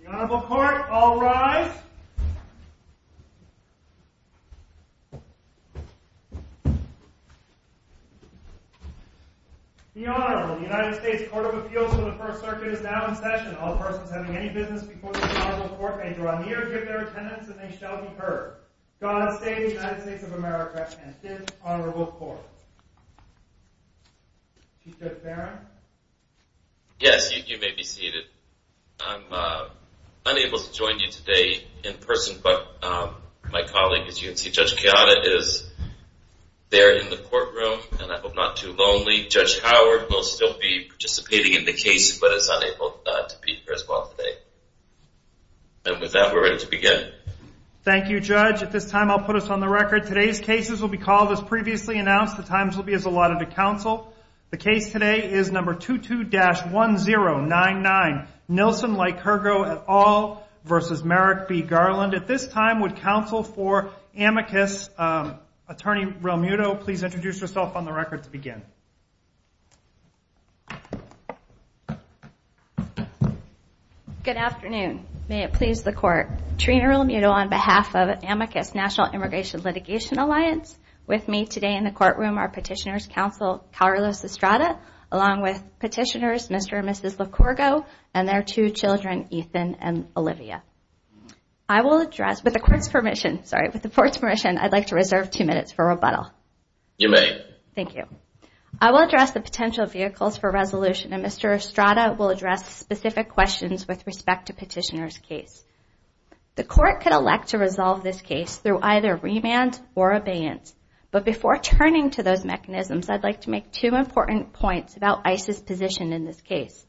The Honorable Court, all rise. The Honorable, the United States Court of Appeals for the First Circuit is now in session. All persons having any business before the Honorable Court may draw near, give their attendance, and they shall be heard. God save the United States of America and this Honorable Court. Chief Judge Barron? Yes, you may be seated. I'm unable to join you today in person, but my colleague, as you can see, Judge Kayada, is there in the courtroom, and I hope not too lonely. Judge Howard will still be participating in the case, but is unable to be here as well today. And with that, we're ready to begin. Thank you, Judge. At this time, I'll put us on the record. Today's cases will be called as previously announced. The times will be as allotted to counsel. The case today is number 22-1099, Nilsen Likurgo et al. v. Merrick B. Garland. At this time, would counsel for amicus, Attorney Realmuto, please introduce yourself on the record to begin. Good afternoon. May it please the Court. Trina Realmuto on behalf of Amicus National Immigration Litigation Alliance. With me today in the courtroom are Petitioner's Counsel Carlos Estrada, along with Petitioners Mr. and Mrs. Likurgo and their two children, Ethan and Olivia. I will address, with the Court's permission, sorry, with the Court's permission, I'd like to reserve two minutes for rebuttal. You may. Thank you. I will address the potential vehicles for resolution, and Mr. Estrada will address specific questions with respect to Petitioner's case. The Court could elect to resolve this case through either remand or abeyance. But before turning to those mechanisms, I'd like to make two important points about ICE's position in this case.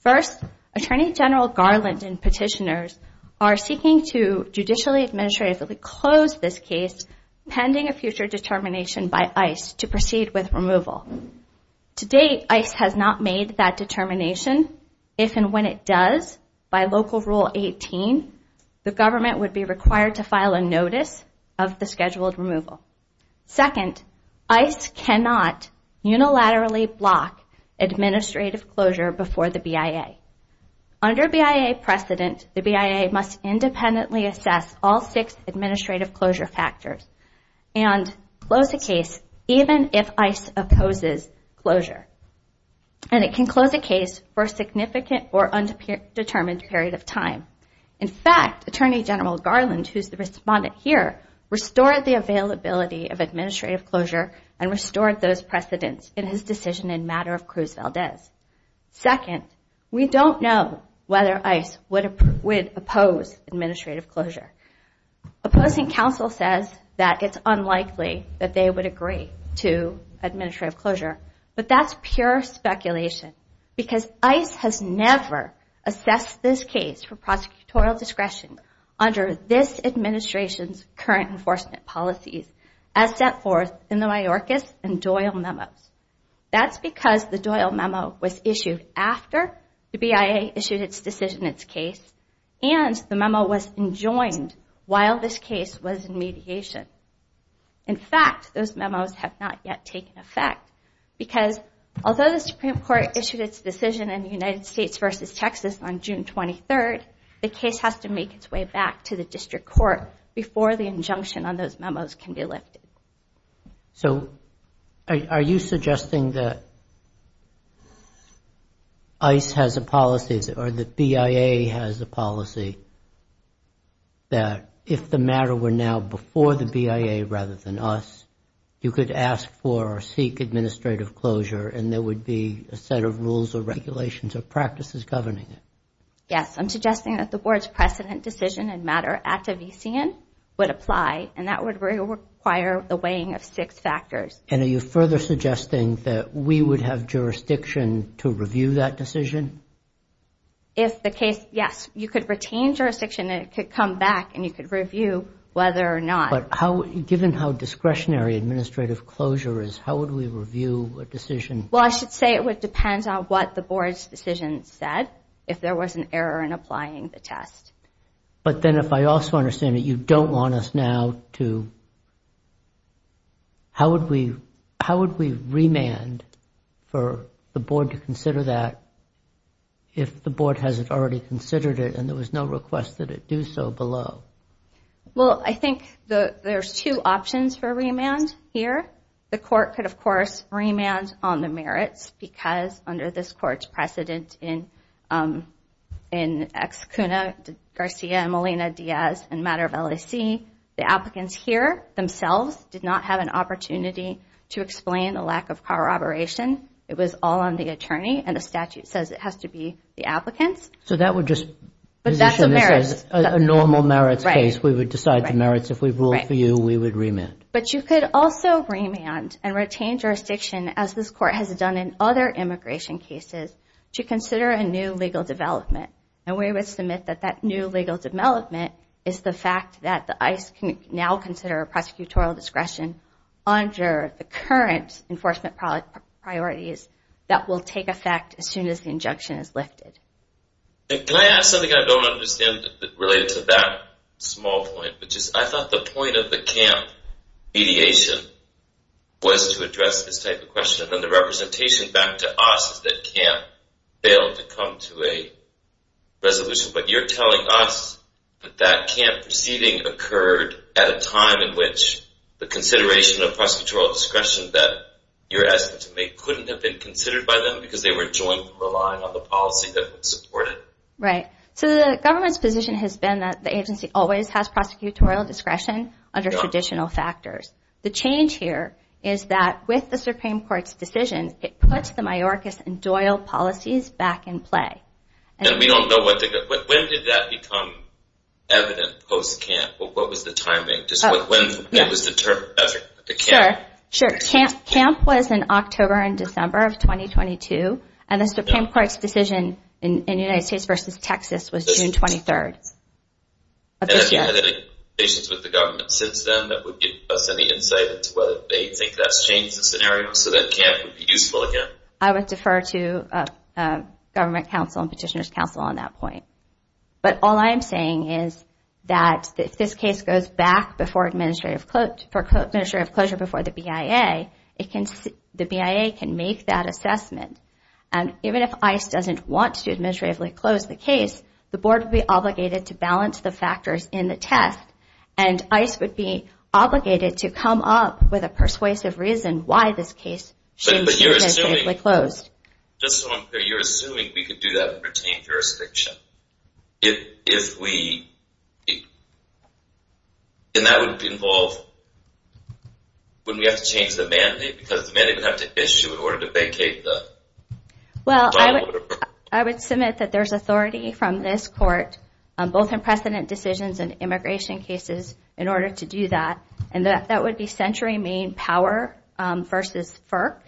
First, Attorney General Garland and Petitioners are seeking to judicially administratively close this case pending a future determination by ICE to proceed with removal. To date, ICE has not made that determination. If and when it does, by Local Rule 18, the government would be required to file a notice of the scheduled removal. Second, ICE cannot unilaterally block administrative closure before the BIA. Under BIA precedent, the BIA must independently assess all six administrative closure factors and close a case even if ICE opposes closure. And it can close a case for a significant or undetermined period of time. In fact, Attorney General Garland, who is the respondent here, restored the availability of administrative closure and restored those precedents in his decision in matter of Cruz Valdez. Second, we don't know whether ICE would oppose administrative closure. Opposing counsel says that it's unlikely that they would agree to administrative closure. But that's pure speculation because ICE has never assessed this case for prosecutorial discretion under this administration's current enforcement policies as set forth in the Mayorkas and Doyle memos. That's because the Doyle memo was issued after the BIA issued its decision in its case and the memo was enjoined while this case was in mediation. In fact, those memos have not yet taken effect because although the Supreme Court issued its decision in the United States versus Texas on June 23, the case has to make its way back to the district court before the injunction on those memos can be lifted. So are you suggesting that ICE has a policy or that BIA has a policy that if the matter were now before the BIA rather than us, you could ask for or seek administrative closure and there would be a set of rules or regulations or practices governing it? Yes, I'm suggesting that the board's precedent decision in matter at Devisian would apply and that would require the weighing of six factors. And are you further suggesting that we would have jurisdiction to review that decision? If the case, yes, you could retain jurisdiction and it could come back and you could review whether or not. But given how discretionary administrative closure is, how would we review a decision? Well, I should say it would depend on what the board's decision said if there was an error in applying the test. But then if I also understand that you don't want us now to, how would we remand for the board to consider that if the board hasn't already considered it and there was no request that it do so below? Well, I think there's two options for remand here. The court could, of course, remand on the merits because under this court's precedent in Ex Cuna Garcia and Molina Diaz in matter of LAC, the applicants here themselves did not have an opportunity to explain the lack of corroboration. It was all on the attorney and the statute says it has to be the applicants. So that would just position this as a normal merits case. We would decide the merits. If we ruled for you, we would remand. But you could also remand and retain jurisdiction as this court has done in other immigration cases to consider a new legal development. And we would submit that that new legal development is the fact that the ICE can now consider prosecutorial discretion under the current enforcement priorities that will take effect as soon as the injunction is lifted. And can I ask something I don't understand related to that small point, which is I thought the point of the camp mediation was to address this type of question. And then the representation back to us is that camp failed to come to a resolution. But you're telling us that that camp proceeding occurred at a time in which the consideration of prosecutorial discretion that you're asking them to make couldn't have been considered by them because they were joint relying on the policy that would support it? Right. So the government's position has been that the agency always has prosecutorial discretion under traditional factors. The change here is that with the Supreme Court's decision, it puts the majoricus and doyle policies back in play. And we don't know when did that become evident post-camp? What was the timing? Just when it was determined. Sure. Camp was in October and December of 2022. And the Supreme Court's decision in the United States versus Texas was June 23rd. And have you had any conversations with the government since then that would give us any insight into whether they think that's changed the scenario so that camp would be useful again? I would defer to government counsel and petitioner's counsel on that point. But all I'm saying is that if this case goes back before administrative closure before the BIA, the BIA can make that assessment. And even if ICE doesn't want to administratively close the case, the board would be obligated to balance the factors in the test. And ICE would be obligated to come up with a persuasive reason why this case should be administratively closed. Just so I'm clear, you're assuming we could do that and retain jurisdiction? If we... And that would involve when we have to change the mandate because the mandate would have to issue in order to vacate the... Well, I would submit that there's authority from this court, both in precedent decisions and immigration cases, in order to do that. And that would be Century Main Power versus FERC,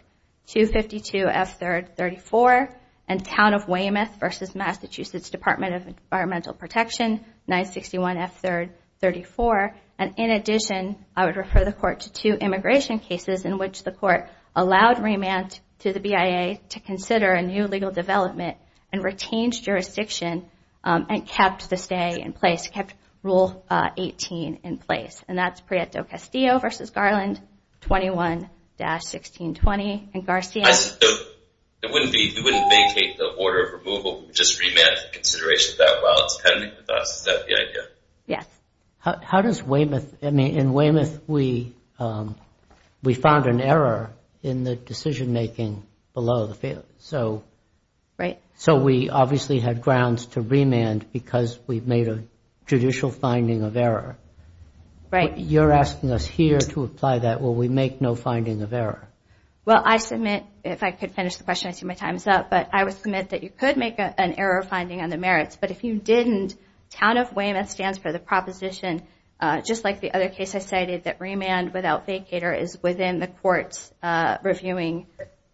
252 F3rd 34, and Town of Weymouth versus Massachusetts Department of Environmental Protection, 961 F3rd 34. And in addition, I would refer the court to two immigration cases in which the court allowed remand to the BIA to consider a new legal development and retains jurisdiction and kept the stay in place, kept Rule 18 in place. And that's Prieto-Castillo versus Garland, 21-1620. And Garcia? It wouldn't be... You wouldn't vacate the order of removal. You would just remand to consideration that while it's pending with us. Is that the idea? How does Weymouth... I mean, in Weymouth, we found an error in the decision-making below the field. Right. So we obviously had grounds to remand because we've made a judicial finding of error. Right. You're asking us here to apply that where we make no finding of error. Well, I submit... If I could finish the question, I see my time is up. But I would submit that you could make an error finding on the merits. But if you didn't, Town of Weymouth stands for the proposition, just like the other case I cited, that remand without vacater is within the court's reviewing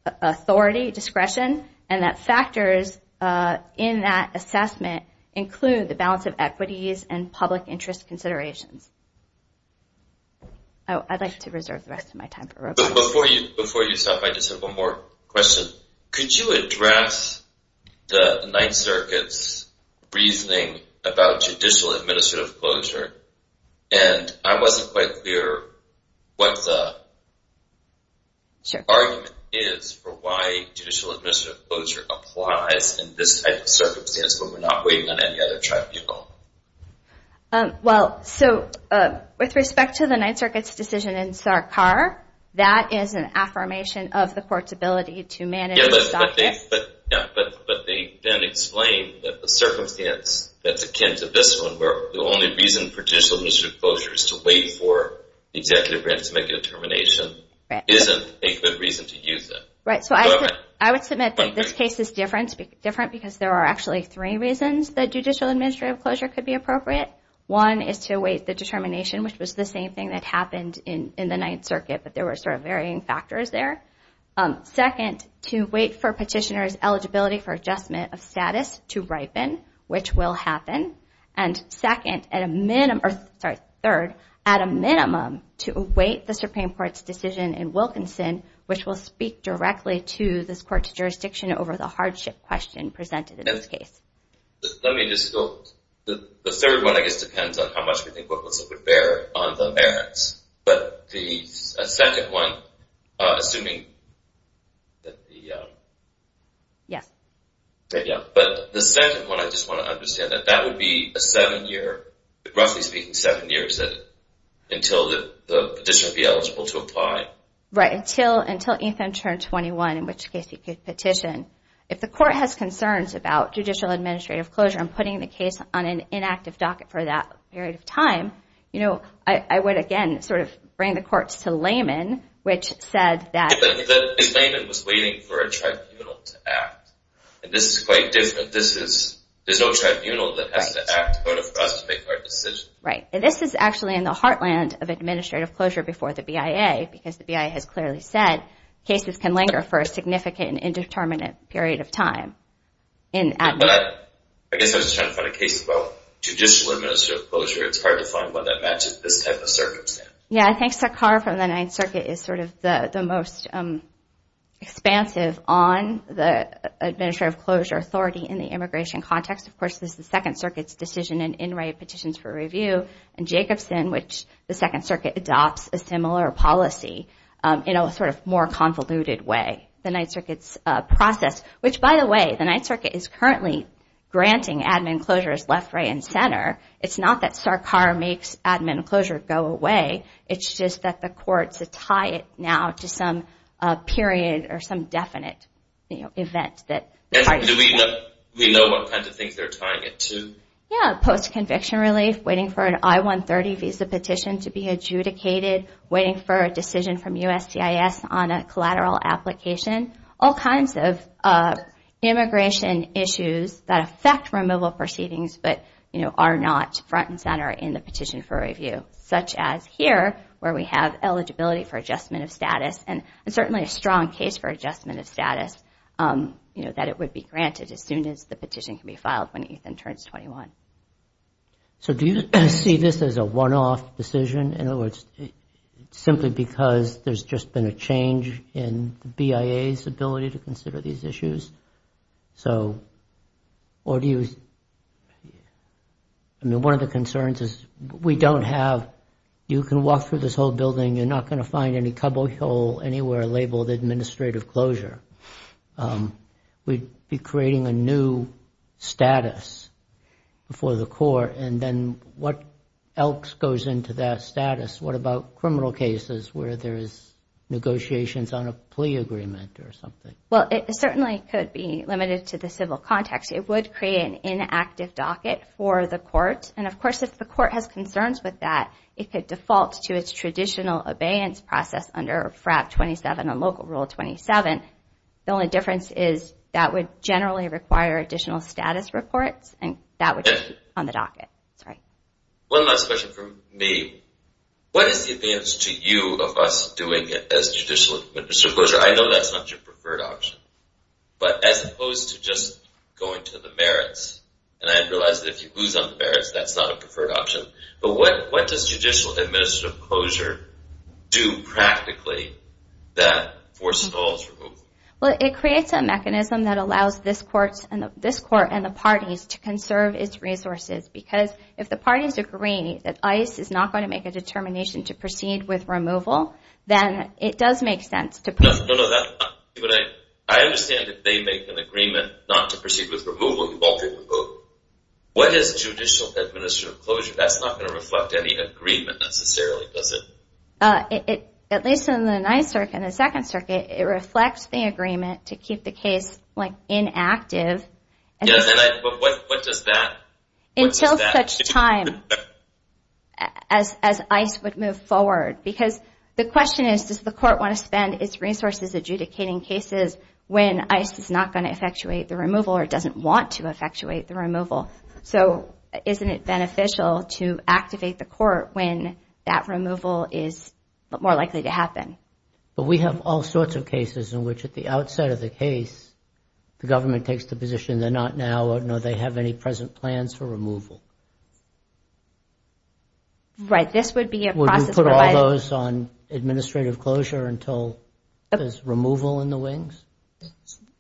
authority, discretion, and that factors in that assessment include the balance of equities and public interest considerations. Oh, I'd like to reserve the rest of my time for Rob. Before you stop, I just have one more question. Could you address the Ninth Circuit's reasoning about judicial administrative closure? And I wasn't quite clear what the argument is for why judicial administrative closure applies in this type of circumstance when we're not waiting on any other tribunal. Well, so with respect to the Ninth Circuit's decision in Sarkar, that is an affirmation of the court's ability to manage this object. Yeah, but they then explain that the circumstance that's akin to this one, where the only reason for judicial administrative closure is to wait for the executive branch to make a determination, isn't a good reason to use it. Right, so I would submit that this case is different because there are actually three reasons that judicial administrative closure could be appropriate. One is to wait the determination, which was the same thing that happened in the Ninth Circuit, but there were sort of varying factors there. Second, to wait for petitioner's eligibility for adjustment of status to ripen, which will happen. And third, at a minimum, to await the Supreme Court's decision in Wilkinson, which will speak directly to this court's jurisdiction over the hardship question presented in this case. The third one, I guess, depends on how much we think Wilkinson would bear on the merits. Yes, but the second one, I just want to understand that, that would be a seven-year, roughly speaking, seven years until the petitioner would be eligible to apply? Right, until Ethan turned 21, in which case he could petition. If the court has concerns about judicial administrative closure and putting the case on an inactive docket for that period of time, you know, I would, again, sort of bring the courts to laymen, which said that- But the layman was waiting for a tribunal to act, and this is quite different. There's no tribunal that has to act in order for us to make our decision. Right, and this is actually in the heartland of administrative closure before the BIA, because the BIA has clearly said cases can linger for a significant and indeterminate period of time. But I guess I was just trying to find a case about judicial administrative closure. It's hard to find one that matches this type of circumstance. Yeah, I think Sakhar from the Ninth Circuit is sort of the most expansive on the administrative closure authority in the immigration context. Of course, this is the Second Circuit's decision in in-write petitions for review, and Jacobson, which the Second Circuit adopts a similar policy, in a sort of more convoluted way, the Ninth Circuit's process, which, by the way, the Ninth Circuit is currently granting admin closure as left, right, and center. It's not that Sakhar makes admin closure go away. It's just that the courts tie it now to some period or some definite event. We know what kind of things they're tying it to. Yeah, post-conviction relief, waiting for an I-130 visa petition to be adjudicated, waiting for a decision from USGIS on a collateral application, all kinds of immigration issues that affect removal proceedings but are not front and center in the petition for review, such as here where we have eligibility for adjustment of status, and certainly a strong case for adjustment of status that it would be granted as soon as the petition can be filed when Ethan turns 21. So do you see this as a one-off decision, in other words, simply because there's just been a change in the BIA's ability to consider these issues? So, or do you... I mean, one of the concerns is we don't have... You can walk through this whole building, you're not going to find any cobble hole anywhere labeled administrative closure. We'd be creating a new status for the court, and then what else goes into that status? What about criminal cases where there is negotiations on a plea agreement or something? Well, it certainly could be limited to the civil context. It would create an inactive docket for the court, and of course if the court has concerns with that, it could default to its traditional abeyance process under FRAP 27 and Local Rule 27. The only difference is that would generally require additional status reports, and that would be on the docket. One last question from me. What is the advance to you of us doing as judicial administrative closure? I know that's not your preferred option, but as opposed to just going to the merits, and I realize that if you lose on the merits, that's not a preferred option, but what does judicial administrative closure do practically that forces all to move? Well, it creates a mechanism that allows this court and the parties to conserve its resources, because if the parties agree that ICE is not going to make a determination to proceed with removal, then it does make sense to proceed. I understand that they make an agreement not to proceed with removal. What is judicial administrative closure? That's not going to reflect any agreement necessarily, is it? At least in the Ninth Circuit and the Second Circuit, it reflects the agreement to keep the case inactive until such time as ICE would move forward, because the question is, does the court want to spend its resources adjudicating cases when ICE is not going to effectuate the removal or doesn't want to effectuate the removal? So isn't it beneficial to activate the court when that removal is more likely to happen? But we have all sorts of cases in which at the outset of the case, the government takes the position they're not now, nor do they have any present plans for removal. Would you put all those on administrative closure until there's removal in the wings?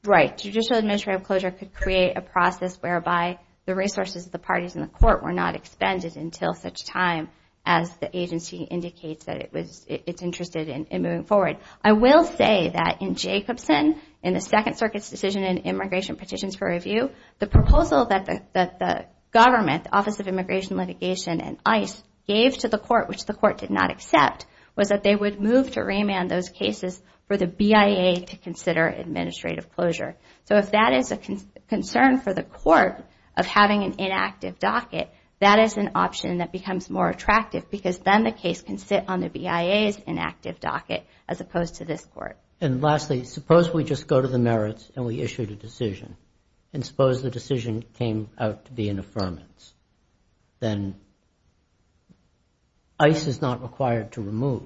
Right. Judicial administrative closure could create a process whereby the resources of the parties in the court were not expended until such time as the agency indicates that it's interested in moving forward. I will say that in Jacobson, in the Second Circuit's decision in Immigration Petitions for Review, the proposal that the government, Office of Immigration Litigation and ICE, gave to the court, which the court did not accept, was that they would move to remand those cases for the BIA to consider administrative closure. So if that is a concern for the court of having an inactive docket, that is an option that becomes more attractive because then the case can sit on the BIA's inactive docket as opposed to this court. And lastly, suppose we just go to the merits and we issued a decision. And suppose the decision came out to be an affirmance. Then ICE is not required to remove.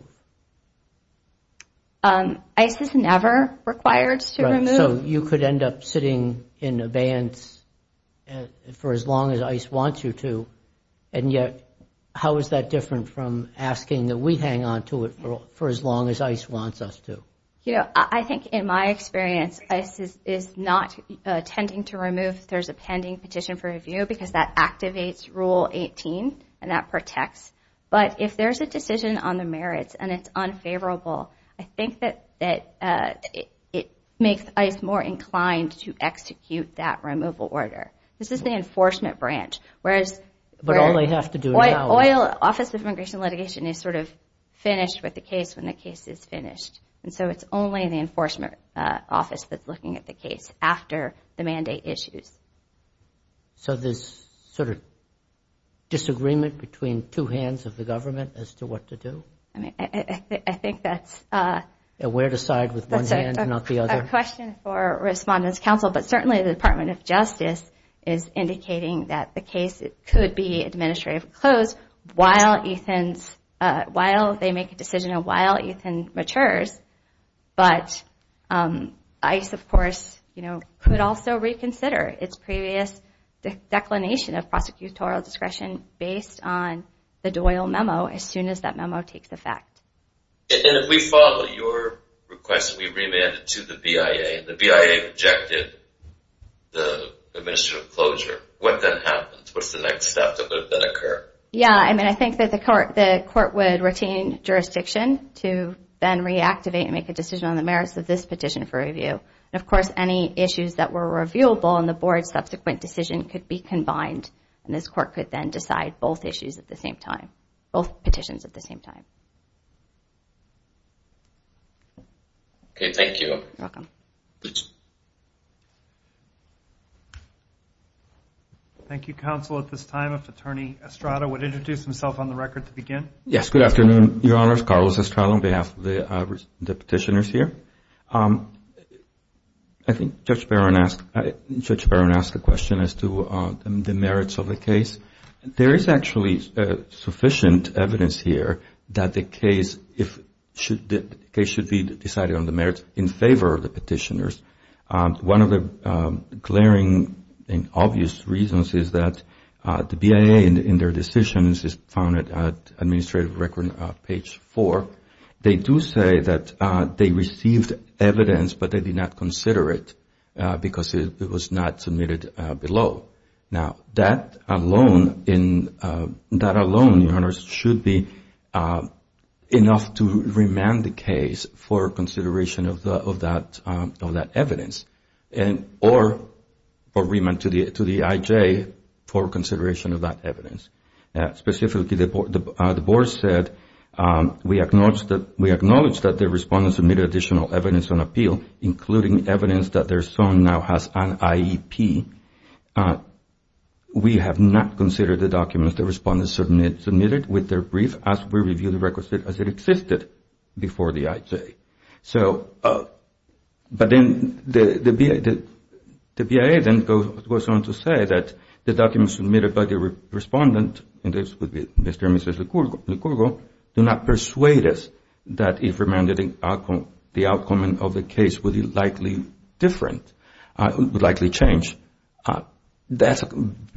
ICE is never required to remove. So you could end up sitting in abeyance for as long as ICE wants you to, and yet how is that different from asking that we hang on to it for as long as ICE wants us to? I think in my experience, ICE is not intending to remove if there's a pending petition for review because that activates Rule 18 and that protects. But if there's a decision on the merits and it's unfavorable, I think that it makes ICE more inclined to execute that removal order. This is the enforcement branch. But all they have to do is now. The Office of Immigration and Litigation is sort of finished with the case when the case is finished. And so it's only the Enforcement Office that's looking at the case after the mandate issues. So there's sort of disagreement between two hands of the government as to what to do? I think that's a question for Respondents' Council, but certainly the Department of Justice is indicating that the case could be administratively closed while they make a decision and while Ethan matures. But ICE, of course, could also reconsider its previous declination of prosecutorial discretion based on the Doyle memo as soon as that memo takes effect. And if we follow your request, we remand it to the BIA. The BIA rejected the administrative closure. What then happens? What's the next step that would then occur? Yeah, I mean, I think that the court would retain jurisdiction to then reactivate and make a decision on the merits of this petition for review. And, of course, any issues that were reviewable in the board's subsequent decision could be combined, and this court could then decide both issues at the same time, both petitions at the same time. Okay, thank you. You're welcome. Thank you, Counsel. At this time, if Attorney Estrada would introduce himself on the record to begin. Yes, good afternoon, Your Honors. Carlos Estrada on behalf of the petitioners here. I think Judge Barron asked a question as to the merits of the case. There is actually sufficient evidence here that the case should be decided on the merits in favor of the petitioners. One of the glaring and obvious reasons is that the BIA in their decisions is found at administrative record page four. They do say that they received evidence, but they did not consider it because it was not submitted below. Now, that alone, Your Honors, should be enough to remand the case for consideration of that evidence or remand to the IJ for consideration of that evidence. Specifically, the board said we acknowledge that the respondents submitted additional evidence on appeal, including evidence that their son now has an IEP. We have not considered the documents the respondents submitted with their brief as we review the records as it existed before the IJ. So, but then the BIA then goes on to say that the documents submitted by the respondent, and this would be Mr. and Mrs. Licurgo, do not persuade us that if remanded, the outcome of the case would be likely different, would likely change. That's a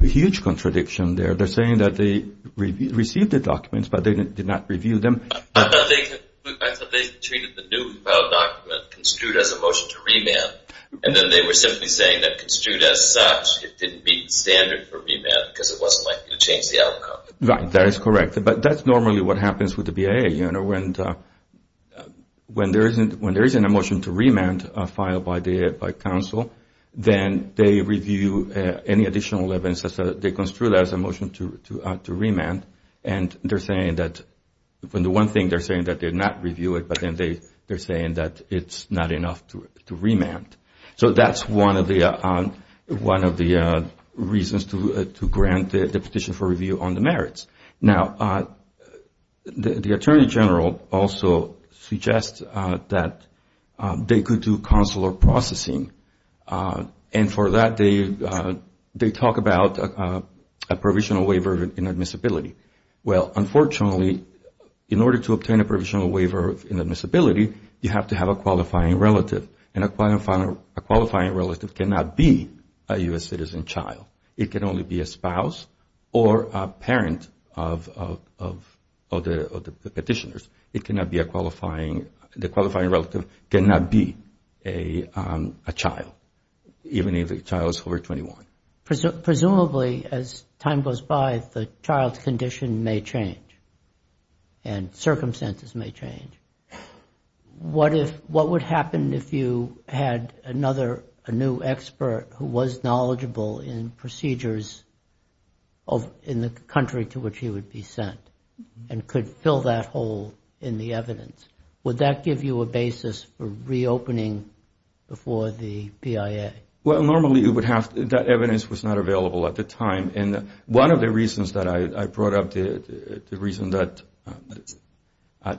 huge contradiction there. They're saying that they received the documents, but they did not review them. I thought they treated the new filed document construed as a motion to remand, and then they were simply saying that construed as such, it didn't meet the standard for remand because it wasn't likely to change the outcome. Right, that is correct. But that's normally what happens with the BIA. You know, when there isn't a motion to remand filed by counsel, then they review any additional evidence. They construe that as a motion to remand, and they're saying that, when the one thing they're saying that they did not review it, but then they're saying that it's not enough to remand. So that's one of the reasons to grant the petition for review on the merits. Now, the Attorney General also suggests that they could do consular processing, and for that they talk about a provisional waiver in admissibility. Well, unfortunately, in order to obtain a provisional waiver in admissibility, you have to have a qualifying relative, and a qualifying relative cannot be a U.S. citizen child. It can only be a spouse or a parent of the petitioners. The qualifying relative cannot be a child, even if the child is over 21. Presumably, as time goes by, the child's condition may change, and circumstances may change. What would happen if you had another, a new expert who was knowledgeable in procedures in the country to which he would be sent, and could fill that hole in the evidence? Would that give you a basis for reopening before the BIA? Well, normally, that evidence was not available at the time, and one of the reasons that I brought up the reason that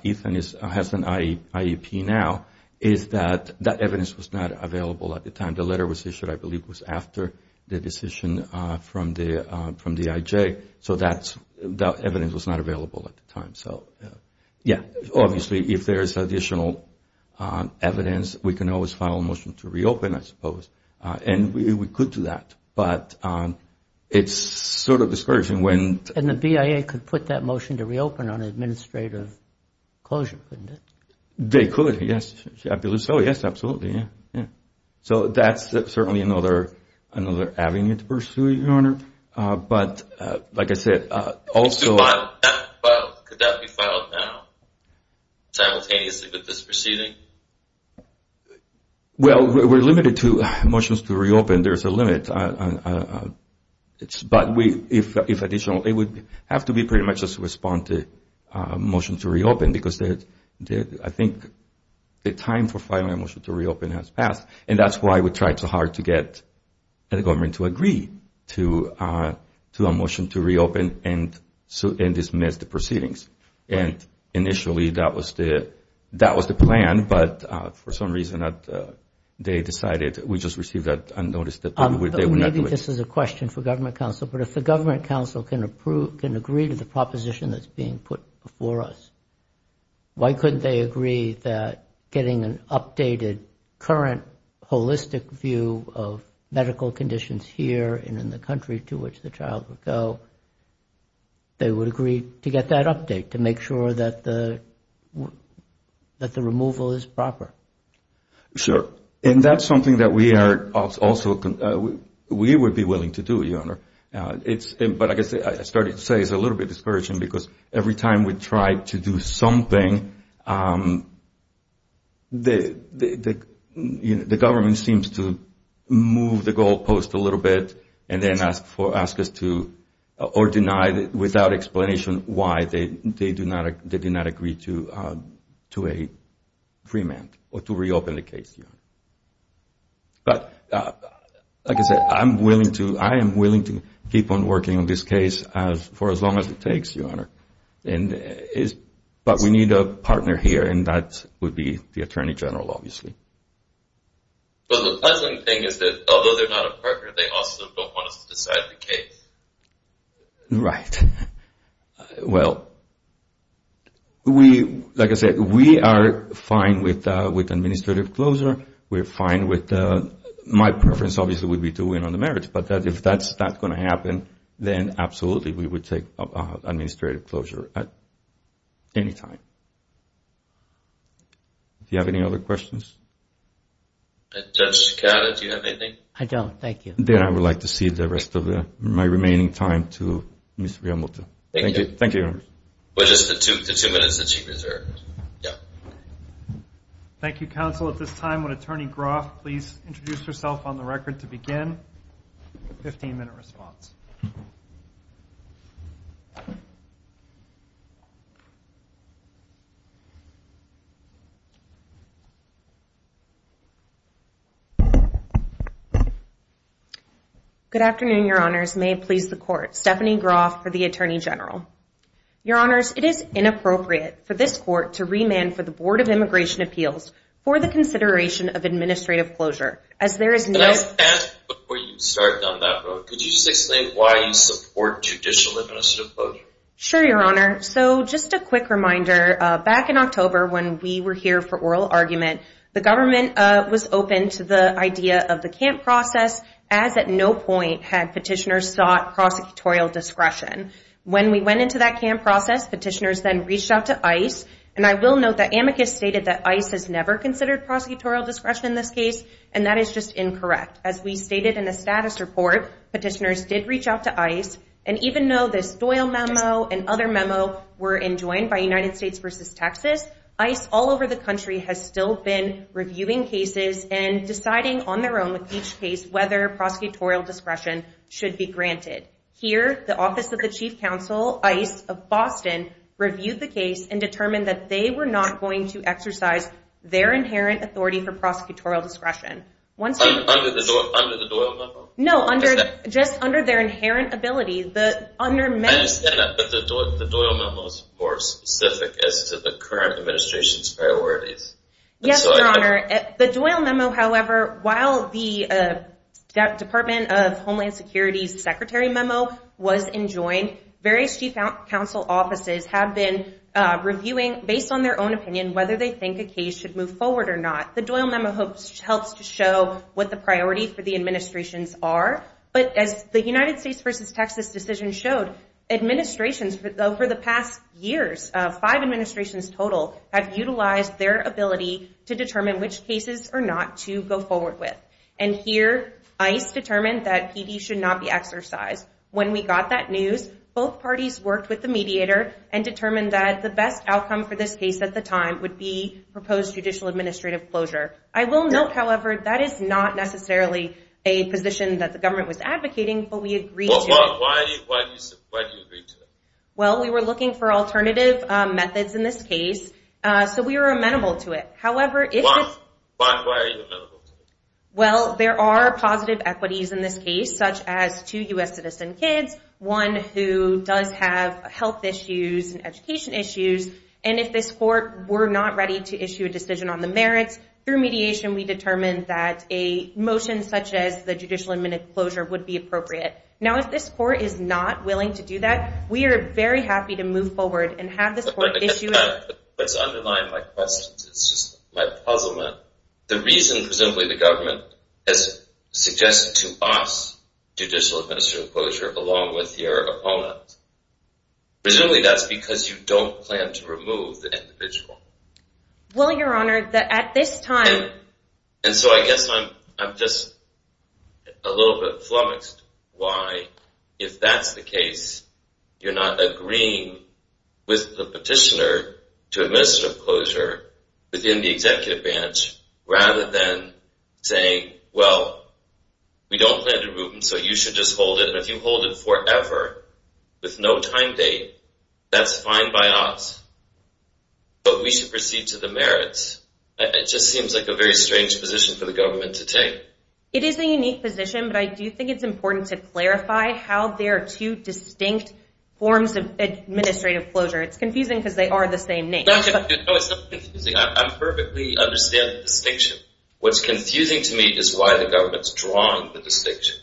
Ethan has an IEP now is that that evidence was not available at the time. The letter was issued, I believe, was after the decision from the IJ, so that evidence was not available at the time. Yeah, obviously, if there's additional evidence, we can always file a motion to reopen, I suppose, and we could do that, but it's sort of discouraging when- And the BIA could put that motion to reopen on administrative closure, couldn't it? They could, yes, I believe so, yes, absolutely, yeah. So that's certainly another avenue to pursue, Your Honor, but like I said, also- Could that be filed now, simultaneously with this proceeding? Well, we're limited to motions to reopen. There's a limit, but if additional, it would have to be pretty much a response to a motion to reopen because I think the time for filing a motion to reopen has passed, and that's why we tried so hard to get the government to agree to a motion to reopen and dismiss the proceedings. And initially, that was the plan, but for some reason, they decided we just received that notice that they would not do it. Maybe this is a question for government counsel, but if the government counsel can agree to the proposition that's being put before us, why couldn't they agree that getting an updated, current, holistic view of medical conditions here and in the country to which the child would go, they would agree to get that update to make sure that the removal is proper? Sure, and that's something that we are also, we would be willing to do, Your Honor. But I guess I started to say it's a little bit discouraging because every time we try to do something, the government seems to move the goalpost a little bit and then ask us to, or deny without explanation, why they did not agree to a freement or to reopen the case, Your Honor. But like I said, I am willing to keep on working on this case for as long as it takes, Your Honor. But we need a partner here, and that would be the Attorney General, obviously. But the pleasant thing is that although they're not a partner, they also don't want us to decide the case. Right. Well, we, like I said, we are fine with administrative closure. We're fine with, my preference obviously would be to win on the merits. But if that's not going to happen, then absolutely we would take administrative closure at any time. Do you have any other questions? Judge Scala, do you have anything? I don't. Thank you. Then I would like to cede the rest of my remaining time to Ms. Riamuto. Thank you. Thank you, Your Honor. With just the two minutes that she reserved. Yeah. Thank you, counsel. At this time, would Attorney Groff please introduce herself on the record to begin? Fifteen-minute response. Good afternoon, Your Honors. May it please the Court. Stephanie Groff for the Attorney General. Your Honors, it is inappropriate for this Court to remand for the Board of Immigration Appeals for the consideration of administrative closure as there is no Before you start down that road, could you just explain why you support judicial administrative closure? Sure, Your Honor. So just a quick reminder, back in October when we were here for oral argument, the government was open to the idea of the camp process, as at no point had petitioners sought prosecutorial discretion. When we went into that camp process, petitioners then reached out to ICE, and I will note that amicus stated that ICE has never considered prosecutorial discretion in this case, and that is just incorrect. As we stated in the status report, petitioners did reach out to ICE, and even though this Doyle memo and other memo were enjoined by United States v. Texas, ICE all over the country has still been reviewing cases and deciding on their own with each case whether prosecutorial discretion should be granted. Here, the Office of the Chief Counsel, ICE of Boston, reviewed the case and determined that they were not going to exercise their inherent authority for prosecutorial discretion. Under the Doyle memo? No, just under their inherent ability. I understand that, but the Doyle memo is more specific as to the current administration's priorities. Yes, Your Honor. The Doyle memo, however, while the Department of Homeland Security's secretary memo was enjoined, various chief counsel offices have been reviewing, based on their own opinion, whether they think a case should move forward or not. The Doyle memo helps to show what the priority for the administrations are, but as the United States v. Texas decision showed, administrations, for the past years, five administrations total, have utilized their ability to determine which cases are not to go forward with. And here, ICE determined that PD should not be exercised. When we got that news, both parties worked with the mediator and determined that the best outcome for this case at the time would be proposed judicial administrative closure. I will note, however, that is not necessarily a position that the government was advocating, but we agreed to it. Why did you agree to it? Well, we were looking for alternative methods in this case, so we were amenable to it. Why are you amenable to it? Well, there are positive equities in this case, such as two U.S. citizen kids, one who does have health issues and education issues, and if this court were not ready to issue a decision on the merits, through mediation we determined that a motion such as the judicial administrative closure would be appropriate. Now, if this court is not willing to do that, we are very happy to move forward and have this court issue it. What's underlying my question is just my puzzlement. The reason, presumably, the government has suggested to us judicial administrative closure along with your opponent. Presumably that's because you don't plan to remove the individual. Well, Your Honor, at this time... And so I guess I'm just a little bit flummoxed why, if that's the case, you're not agreeing with the petitioner to administrative closure within the executive branch rather than saying, well, we don't plan to remove him, so you should just hold it, and if you hold it forever with no time date, that's fine by us, but we should proceed to the merits. It just seems like a very strange position for the government to take. It is a unique position, but I do think it's important to clarify how there are two distinct forms of administrative closure. It's confusing because they are the same name. No, it's not confusing. I perfectly understand the distinction. What's confusing to me is why the government's drawing the distinction.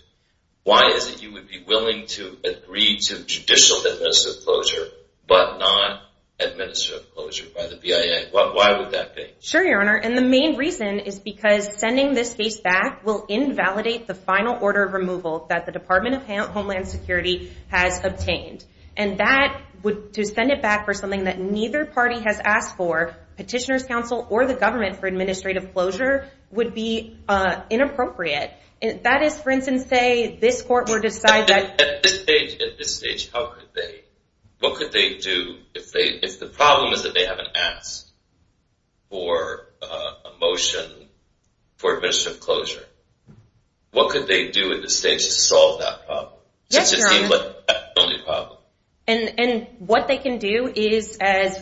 Why is it you would be willing to agree to judicial administrative closure but not administrative closure by the BIA? Why would that be? Sure, Your Honor, and the main reason is because sending this case back will invalidate the final order of removal that the Department of Homeland Security has obtained, and to send it back for something that neither party has asked for, petitioner's counsel or the government for administrative closure, would be inappropriate. That is, for instance, say this court were to decide that— At this stage, how could they? What could they do if the problem is that they haven't asked for a motion for administrative closure? What could they do at this stage to solve that problem? Yes, Your Honor, and what they can do is, as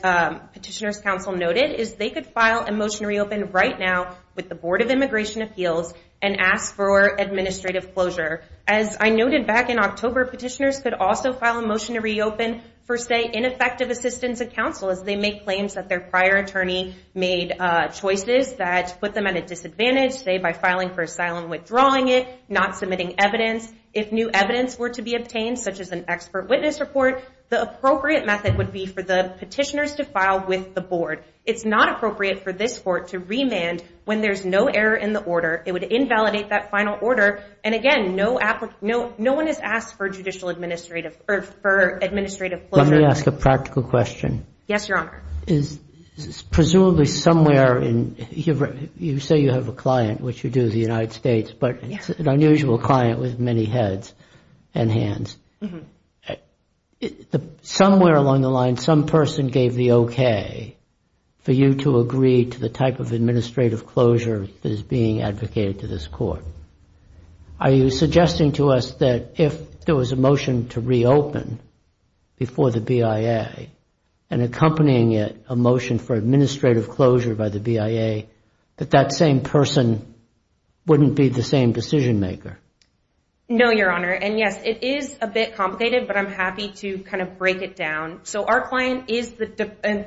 petitioner's counsel noted, is they could file a motion to reopen right now with the Board of Immigration Appeals and ask for administrative closure. As I noted back in October, petitioners could also file a motion to reopen for, say, ineffective assistance of counsel as they make claims that their prior attorney made choices that put them at a disadvantage, say by filing for asylum, withdrawing it, not submitting evidence. If new evidence were to be obtained, such as an expert witness report, the appropriate method would be for the petitioners to file with the board. It's not appropriate for this court to remand when there's no error in the order. It would invalidate that final order, and again, no one has asked for administrative closure. Let me ask a practical question. Yes, Your Honor. Presumably somewhere in—you say you have a client, which you do, the United States, but it's an unusual client with many heads and hands. Somewhere along the line, some person gave the okay for you to agree to the type of administrative closure that is being advocated to this court. Are you suggesting to us that if there was a motion to reopen before the BIA and accompanying it a motion for administrative closure by the BIA, that that same person wouldn't be the same decision maker? No, Your Honor, and yes, it is a bit complicated, but I'm happy to kind of break it down. So our client is the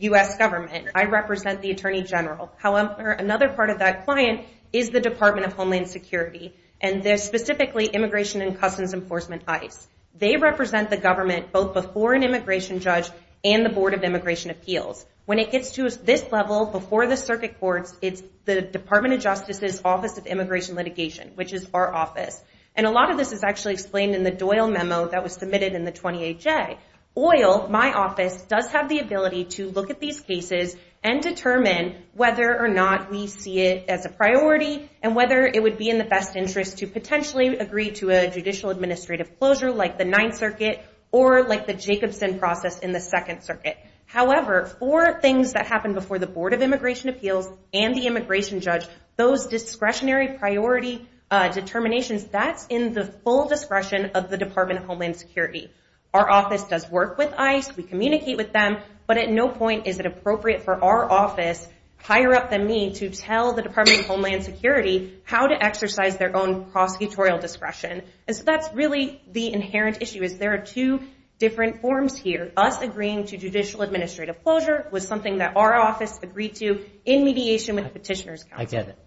U.S. government. I represent the Attorney General. However, another part of that client is the Department of Homeland Security, and they're specifically Immigration and Customs Enforcement, ICE. They represent the government both before an immigration judge and the Board of Immigration Appeals. When it gets to this level, before the circuit courts, it's the Department of Justice's Office of Immigration Litigation, which is our office. And a lot of this is actually explained in the Doyle memo that was submitted in the 28J. OIL, my office, does have the ability to look at these cases and determine whether or not we see it as a priority and whether it would be in the best interest to potentially agree to a judicial administrative closure like the Ninth Circuit or like the Jacobson process in the Second Circuit. However, for things that happen before the Board of Immigration Appeals and the immigration judge, those discretionary priority determinations, that's in the full discretion of the Department of Homeland Security. Our office does work with ICE. We communicate with them, but at no point is it appropriate for our office, higher up than me, to tell the Department of Homeland Security how to exercise their own prosecutorial discretion. And so that's really the inherent issue is there are two different forms here, but us agreeing to judicial administrative closure was something that our office agreed to in mediation with the Petitioner's Council. I get it.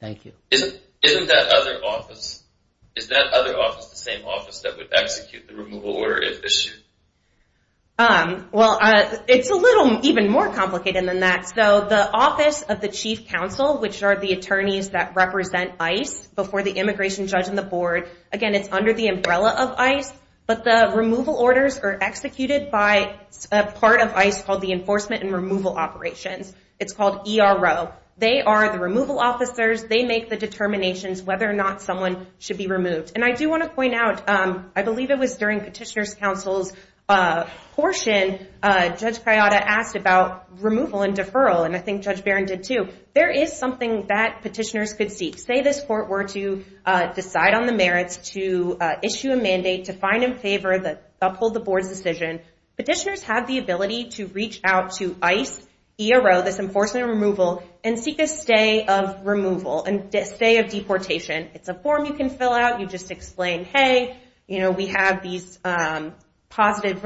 Thank you. Isn't that other office the same office that would execute the removal order if issued? Well, it's a little even more complicated than that. So the Office of the Chief Counsel, which are the attorneys that represent ICE before the immigration judge and the Board, again, it's under the umbrella of ICE, but the removal orders are executed by a part of ICE called the Enforcement and Removal Operations. It's called ERO. They are the removal officers. They make the determinations whether or not someone should be removed. And I do want to point out, I believe it was during Petitioner's Council's portion, Judge Kayada asked about removal and deferral, and I think Judge Barron did too. There is something that petitioners could seek. Say this court were to decide on the merits to issue a mandate to find in favor, uphold the Board's decision, petitioners have the ability to reach out to ICE, ERO, this Enforcement and Removal, and seek a stay of removal and stay of deportation. It's a form you can fill out. You just explain, hey, we have these positive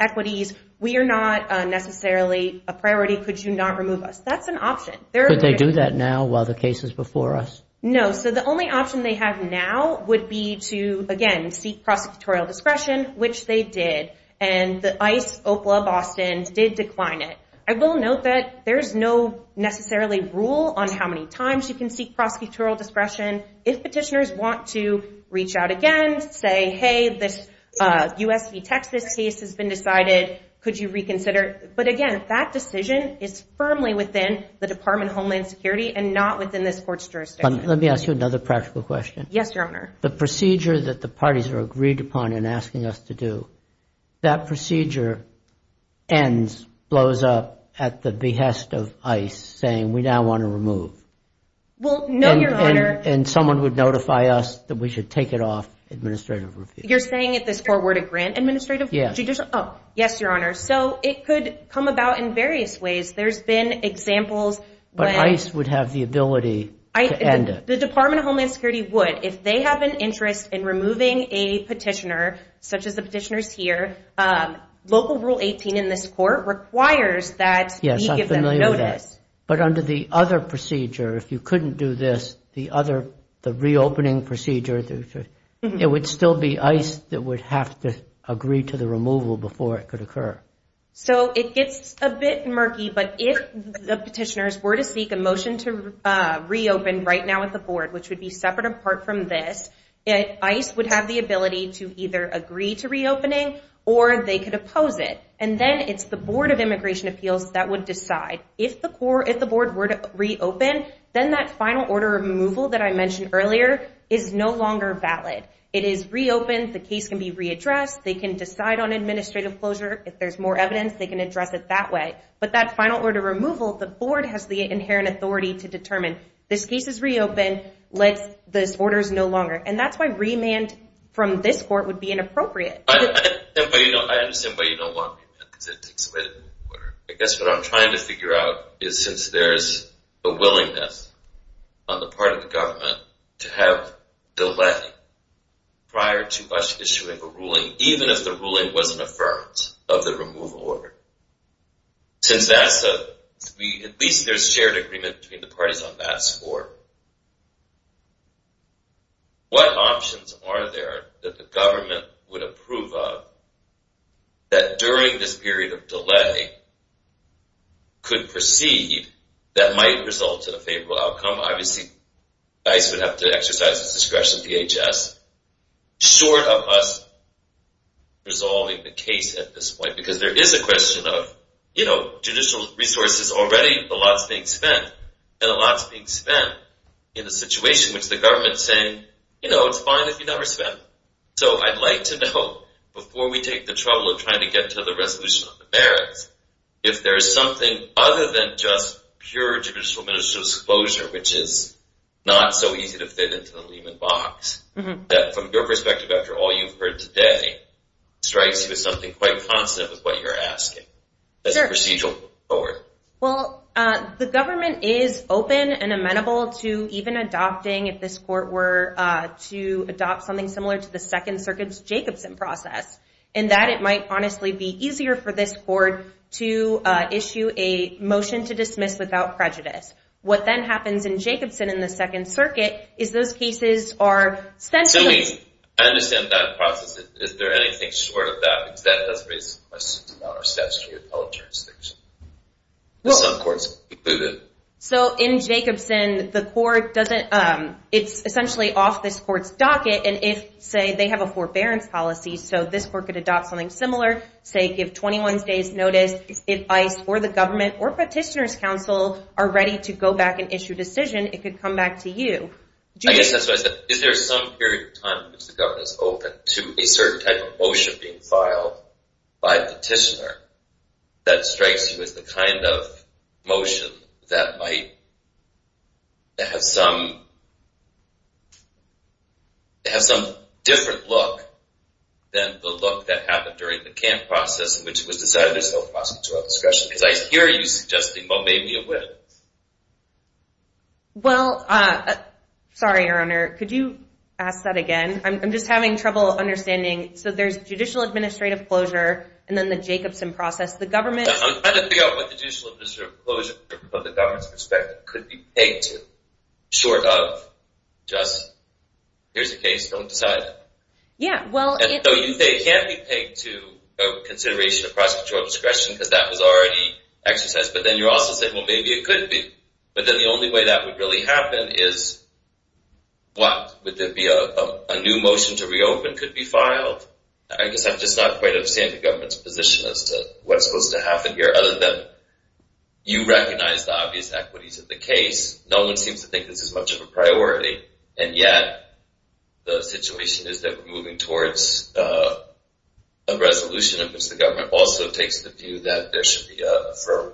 equities. We are not necessarily a priority. Could you not remove us? That's an option. Could they do that now while the case is before us? No. So the only option they have now would be to, again, seek prosecutorial discretion, which they did. And ICE, OPLA, Boston did decline it. I will note that there is no necessarily rule on how many times you can seek prosecutorial discretion. If petitioners want to reach out again, say, hey, this U.S. v. Texas case has been decided. Could you reconsider? But, again, that decision is firmly within the Department of Homeland Security and not within this court's jurisdiction. Let me ask you another practical question. Yes, Your Honor. The procedure that the parties are agreed upon in asking us to do, that procedure ends, blows up at the behest of ICE saying we now want to remove. Well, no, Your Honor. And someone would notify us that we should take it off administrative review. You're saying that this court were to grant administrative judicial? Yes. Oh, yes, Your Honor. So it could come about in various ways. There's been examples when- But ICE would have the ability to end it. The Department of Homeland Security would. If they have an interest in removing a petitioner, such as the petitioners here, local rule 18 in this court requires that we give them notice. Yes, I'm familiar with that. But under the other procedure, if you couldn't do this, the reopening procedure, it would still be ICE that would have to agree to the removal before it could occur. So it gets a bit murky. But if the petitioners were to seek a motion to reopen right now at the board, which would be separate apart from this, ICE would have the ability to either agree to reopening or they could oppose it. And then it's the Board of Immigration Appeals that would decide. If the board were to reopen, then that final order of removal that I mentioned earlier is no longer valid. It is reopened. The case can be readdressed. They can decide on administrative closure. If there's more evidence, they can address it that way. But that final order of removal, the board has the inherent authority to determine. This case is reopened. This order is no longer. And that's why remand from this court would be inappropriate. I understand why you don't want remand because it takes away the order. I guess what I'm trying to figure out is since there's a willingness on the part of the government to have delay prior to us issuing a ruling, even if the ruling was an affirmance of the removal order, since at least there's shared agreement between the parties on that score, what options are there that the government would approve of that during this period of delay could proceed that might result in a favorable outcome? Obviously ICE would have to exercise its discretion, DHS, short of us resolving the case at this point. Because there is a question of judicial resources already. A lot is being spent. And a lot is being spent in a situation which the government is saying, you know, it's fine if you never spend. So I'd like to know, before we take the trouble of trying to get to the resolution of the merits, if there's something other than just pure judicial disclosure, which is not so easy to fit into the Lehman box, that from your perspective after all you've heard today, strikes you as something quite constant with what you're asking as a procedural court. Well, the government is open and amenable to even adopting, if this court were to adopt something similar to the Second Circuit's Jacobson process, in that it might honestly be easier for this court to issue a motion to dismiss without prejudice. What then happens in Jacobson in the Second Circuit is those cases are spent... To me, I understand that process. Is there anything short of that? Because that does raise questions about our steps to the appellate jurisdiction. Some courts include it. So in Jacobson, the court doesn't... It's essentially off this court's docket, and if, say, they have a forbearance policy, so this court could adopt something similar, say, give 21 days' notice, if ICE or the government or Petitioner's Council are ready to go back and issue a decision, it could come back to you. I guess that's what I said. Is there some period of time in which the government is open to a certain type of motion being filed by a petitioner that strikes you as the kind of motion that might have some different look than the look that happened during the camp process, which was decidedly self-procedural discretion? Because I hear you suggesting, well, maybe it would. Well, sorry, Your Honor. Could you ask that again? I'm just having trouble understanding. So there's judicial administrative closure and then the Jacobson process. I'm trying to figure out what the judicial administrative closure, from the government's perspective, could be pegged to, short of just, here's the case, don't decide it. Yeah, well, it's... So you say it can't be pegged to a consideration of cross-patrol discretion because that was already exercised, but then you're also saying, well, maybe it could be. But then the only way that would really happen is what? Would there be a new motion to reopen could be filed? I guess I'm just not quite understanding the government's position as to what's supposed to happen here, other than you recognize the obvious equities of the case. No one seems to think this is much of a priority, and yet the situation is that we're moving towards a resolution in which the government also takes the view that there should be a firm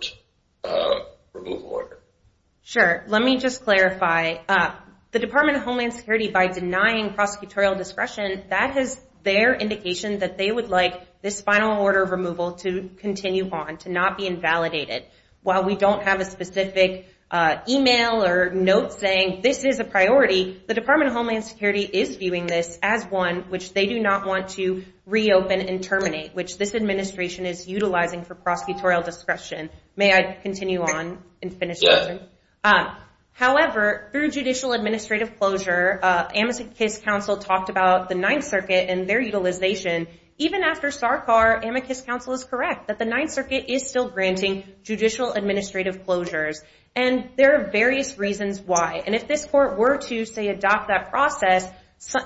removal order. Sure. Let me just clarify. The Department of Homeland Security, by denying prosecutorial discretion, that is their indication that they would like this final order of removal to continue on, to not be invalidated. While we don't have a specific email or note saying this is a priority, the Department of Homeland Security is viewing this as one which they do not want to reopen and terminate, which this administration is utilizing for prosecutorial discretion. May I continue on and finish? Yes. Thank you. However, through judicial administrative closure, Amicus Council talked about the Ninth Circuit and their utilization. Even after SARCAR, Amicus Council is correct that the Ninth Circuit is still granting judicial administrative closures, and there are various reasons why. If this court were to, say, adopt that process,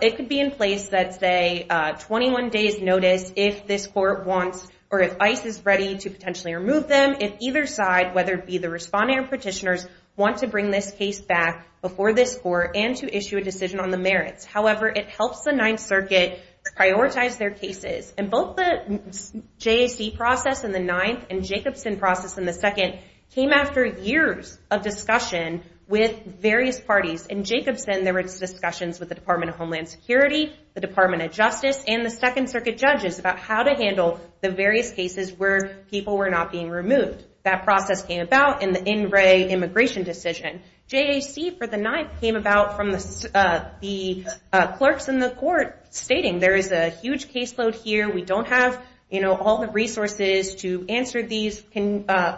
it could be in place that, say, 21 days notice if this court wants, or if ICE is ready to potentially remove them, if either side, whether it be the respondent or petitioners, want to bring this case back before this court and to issue a decision on the merits. However, it helps the Ninth Circuit prioritize their cases. Both the JAC process in the Ninth and Jacobson process in the Second came after years of discussion with various parties. In Jacobson, there were discussions with the Department of Homeland Security, the Department of Justice, and the Second Circuit judges about how to handle the various cases where people were not being removed. That process came about in the In Re Immigration decision. JAC for the Ninth came about from the clerks in the court stating, there is a huge caseload here. We don't have all the resources to answer these.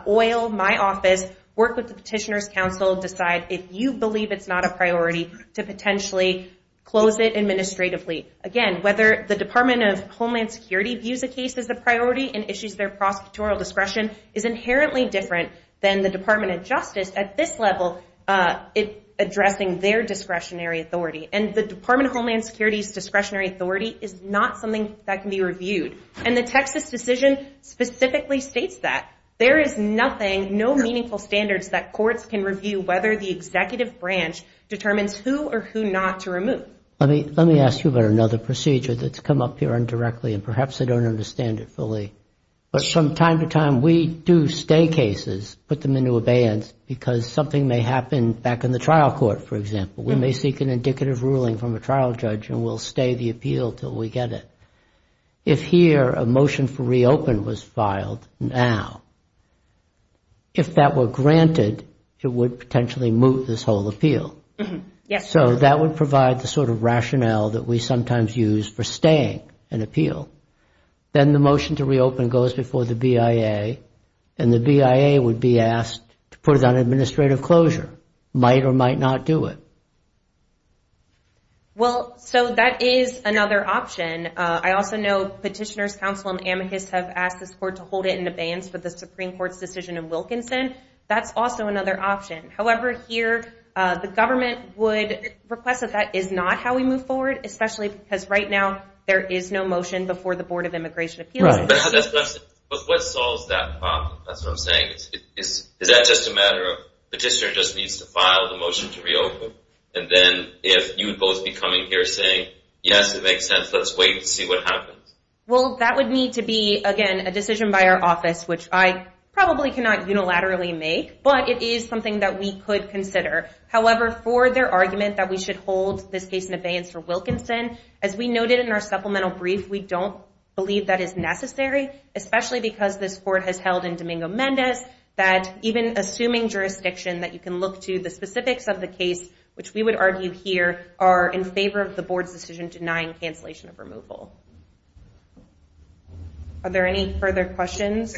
Oil my office. Work with the Petitioners' Council. Decide if you believe it's not a priority to potentially close it administratively. Again, whether the Department of Homeland Security views a case as a priority and issues their prosecutorial discretion is inherently different than the Department of Justice, at this level, addressing their discretionary authority. And the Department of Homeland Security's discretionary authority is not something that can be reviewed. And the Texas decision specifically states that. There is nothing, no meaningful standards that courts can review whether the executive branch determines who or who not to remove. But let me ask you about another procedure that's come up here indirectly, and perhaps they don't understand it fully. But from time to time, we do stay cases, put them into abeyance, because something may happen back in the trial court, for example. We may seek an indicative ruling from a trial judge, and we'll stay the appeal until we get it. If here a motion for reopen was filed now, if that were granted, it would potentially move this whole appeal. Yes. So that would provide the sort of rationale that we sometimes use for staying an appeal. Then the motion to reopen goes before the BIA, and the BIA would be asked to put it on administrative closure, might or might not do it. Well, so that is another option. I also know Petitioners' Counsel and Amicus have asked this court to hold it in abeyance for the Supreme Court's decision in Wilkinson. That's also another option. However, here the government would request that that is not how we move forward, especially because right now there is no motion before the Board of Immigration Appeals. Right. But what solves that problem? That's what I'm saying. Is that just a matter of Petitioner just needs to file the motion to reopen, and then if you would both be coming here saying, yes, it makes sense, let's wait and see what happens? Well, that would need to be, again, a decision by our office, which I probably cannot unilaterally make, but it is something that we could consider. However, for their argument that we should hold this case in abeyance for Wilkinson, as we noted in our supplemental brief, we don't believe that is necessary, especially because this court has held in Domingo-Mendez that even assuming jurisdiction that you can look to the specifics of the case, which we would argue here, are in favor of the Board's decision denying cancellation of removal. Are there any further questions?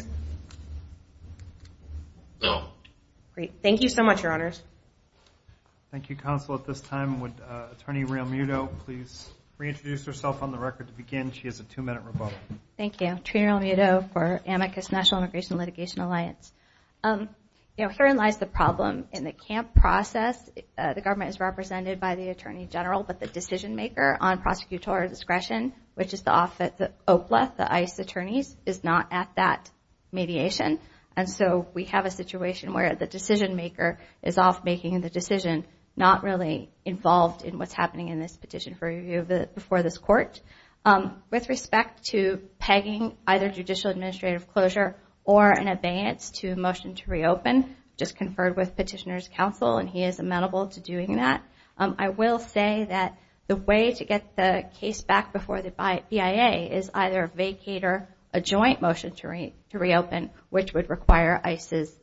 No. Great. Thank you so much, Your Honors. Thank you, Counsel. At this time, would Attorney Realmuto please reintroduce herself on the record to begin? She has a two-minute rebuttal. Thank you. Trina Realmuto for Amicus National Immigration Litigation Alliance. Herein lies the problem. In the camp process, the government is represented by the Attorney General, but the decision-maker on prosecutorial discretion, which is the OPLA, the ICE attorneys, is not at that mediation. And so we have a situation where the decision-maker is off making the decision, not really involved in what's happening in this petition for review before this court. With respect to pegging either judicial administrative closure or an abeyance to a motion to reopen, just conferred with Petitioner's Counsel and he is amenable to doing that, I will say that the way to get the case back before the BIA is either vacate or a joint motion to reopen, which would require ICE's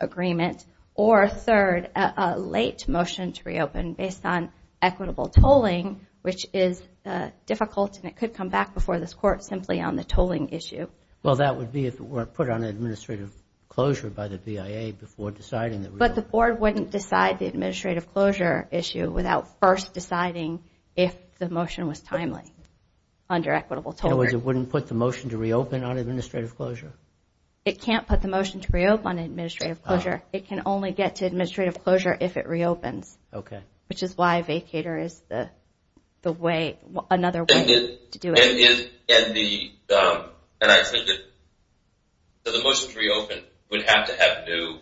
agreement, or, third, a late motion to reopen based on equitable tolling, which is difficult and it could come back before this court simply on the tolling issue. Well, that would be if it were put on administrative closure by the BIA before deciding. But the board wouldn't decide the administrative closure issue without first deciding if the motion was timely under equitable tolling. In other words, it wouldn't put the motion to reopen on administrative closure? It can't put the motion to reopen on administrative closure. It can only get to administrative closure if it reopens, which is why a vacater is another way to do it. And I think that the motion to reopen would have to have new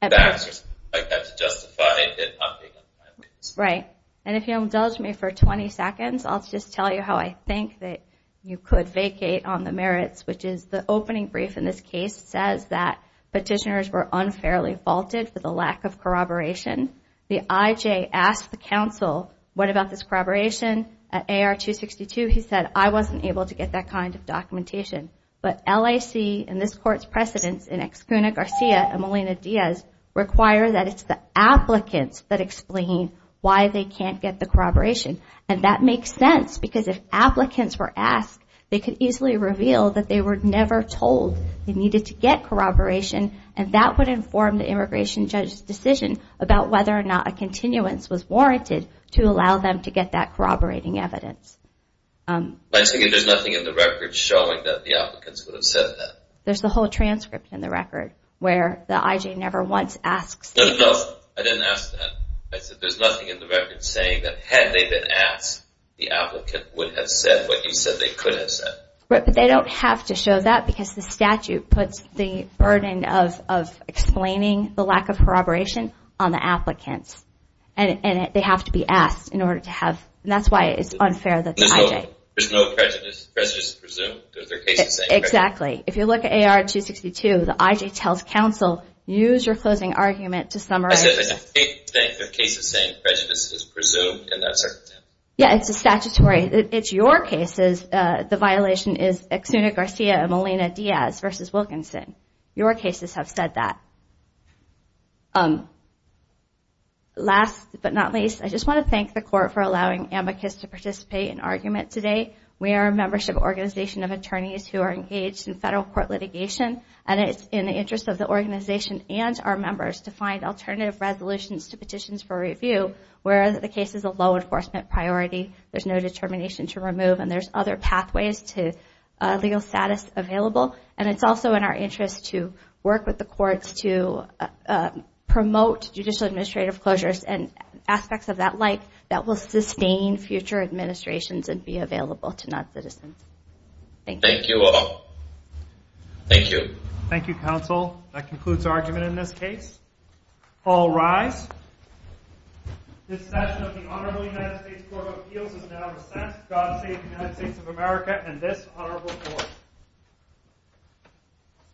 facts or something like that to justify it not being timely. Right. And if you indulge me for 20 seconds, I'll just tell you how I think that you could vacate on the merits, which is the opening brief in this case says that petitioners were unfairly vaulted for the lack of corroboration. The IJ asked the counsel, what about this corroboration at AR 262? He said, I wasn't able to get that kind of documentation. But LAC and this court's precedents in Ex Cuna Garcia and Molina Diaz require that it's the applicants that explain why they can't get the corroboration. And that makes sense because if applicants were asked, they could easily reveal that they were never told they needed to get corroboration. And that would inform the immigration judge's decision about whether or not a continuance was warranted to allow them to get that corroborating evidence. There's nothing in the record showing that the applicants would have said that. There's the whole transcript in the record where the IJ never once asks. No, no, no. I didn't ask that. I said there's nothing in the record saying that had they been asked, the applicant would have said what you said they could have said. But they don't have to show that because the statute puts the burden of explaining the lack of corroboration on the applicants. And they have to be asked in order to have, and that's why it's unfair that the IJ... There's no prejudice. Prejudice is presumed. Exactly. If you look at AR 262, the IJ tells counsel, use your closing argument to summarize... I said there's no case of saying prejudice is presumed in that circumstance. Yeah, it's a statutory... It's your cases. The violation is Exuna Garcia and Molina Diaz versus Wilkinson. Your cases have said that. Last but not least, I just want to thank the court for allowing AMBICUS to participate in argument today. We are a membership organization of attorneys who are engaged in federal court litigation. And it's in the interest of the organization and our members to find alternative resolutions to petitions for review where the case is a law enforcement priority. There's no determination to remove, and there's other pathways to legal status available. And it's also in our interest to work with the courts to promote judicial administrative closures and aspects of that like that will sustain future administrations and be available to non-citizens. Thank you. Thank you all. Thank you. Thank you, counsel. That concludes argument in this case. All rise. This session of the Honorable United States Court of Appeals is now recessed. God save the United States of America and this honorable court.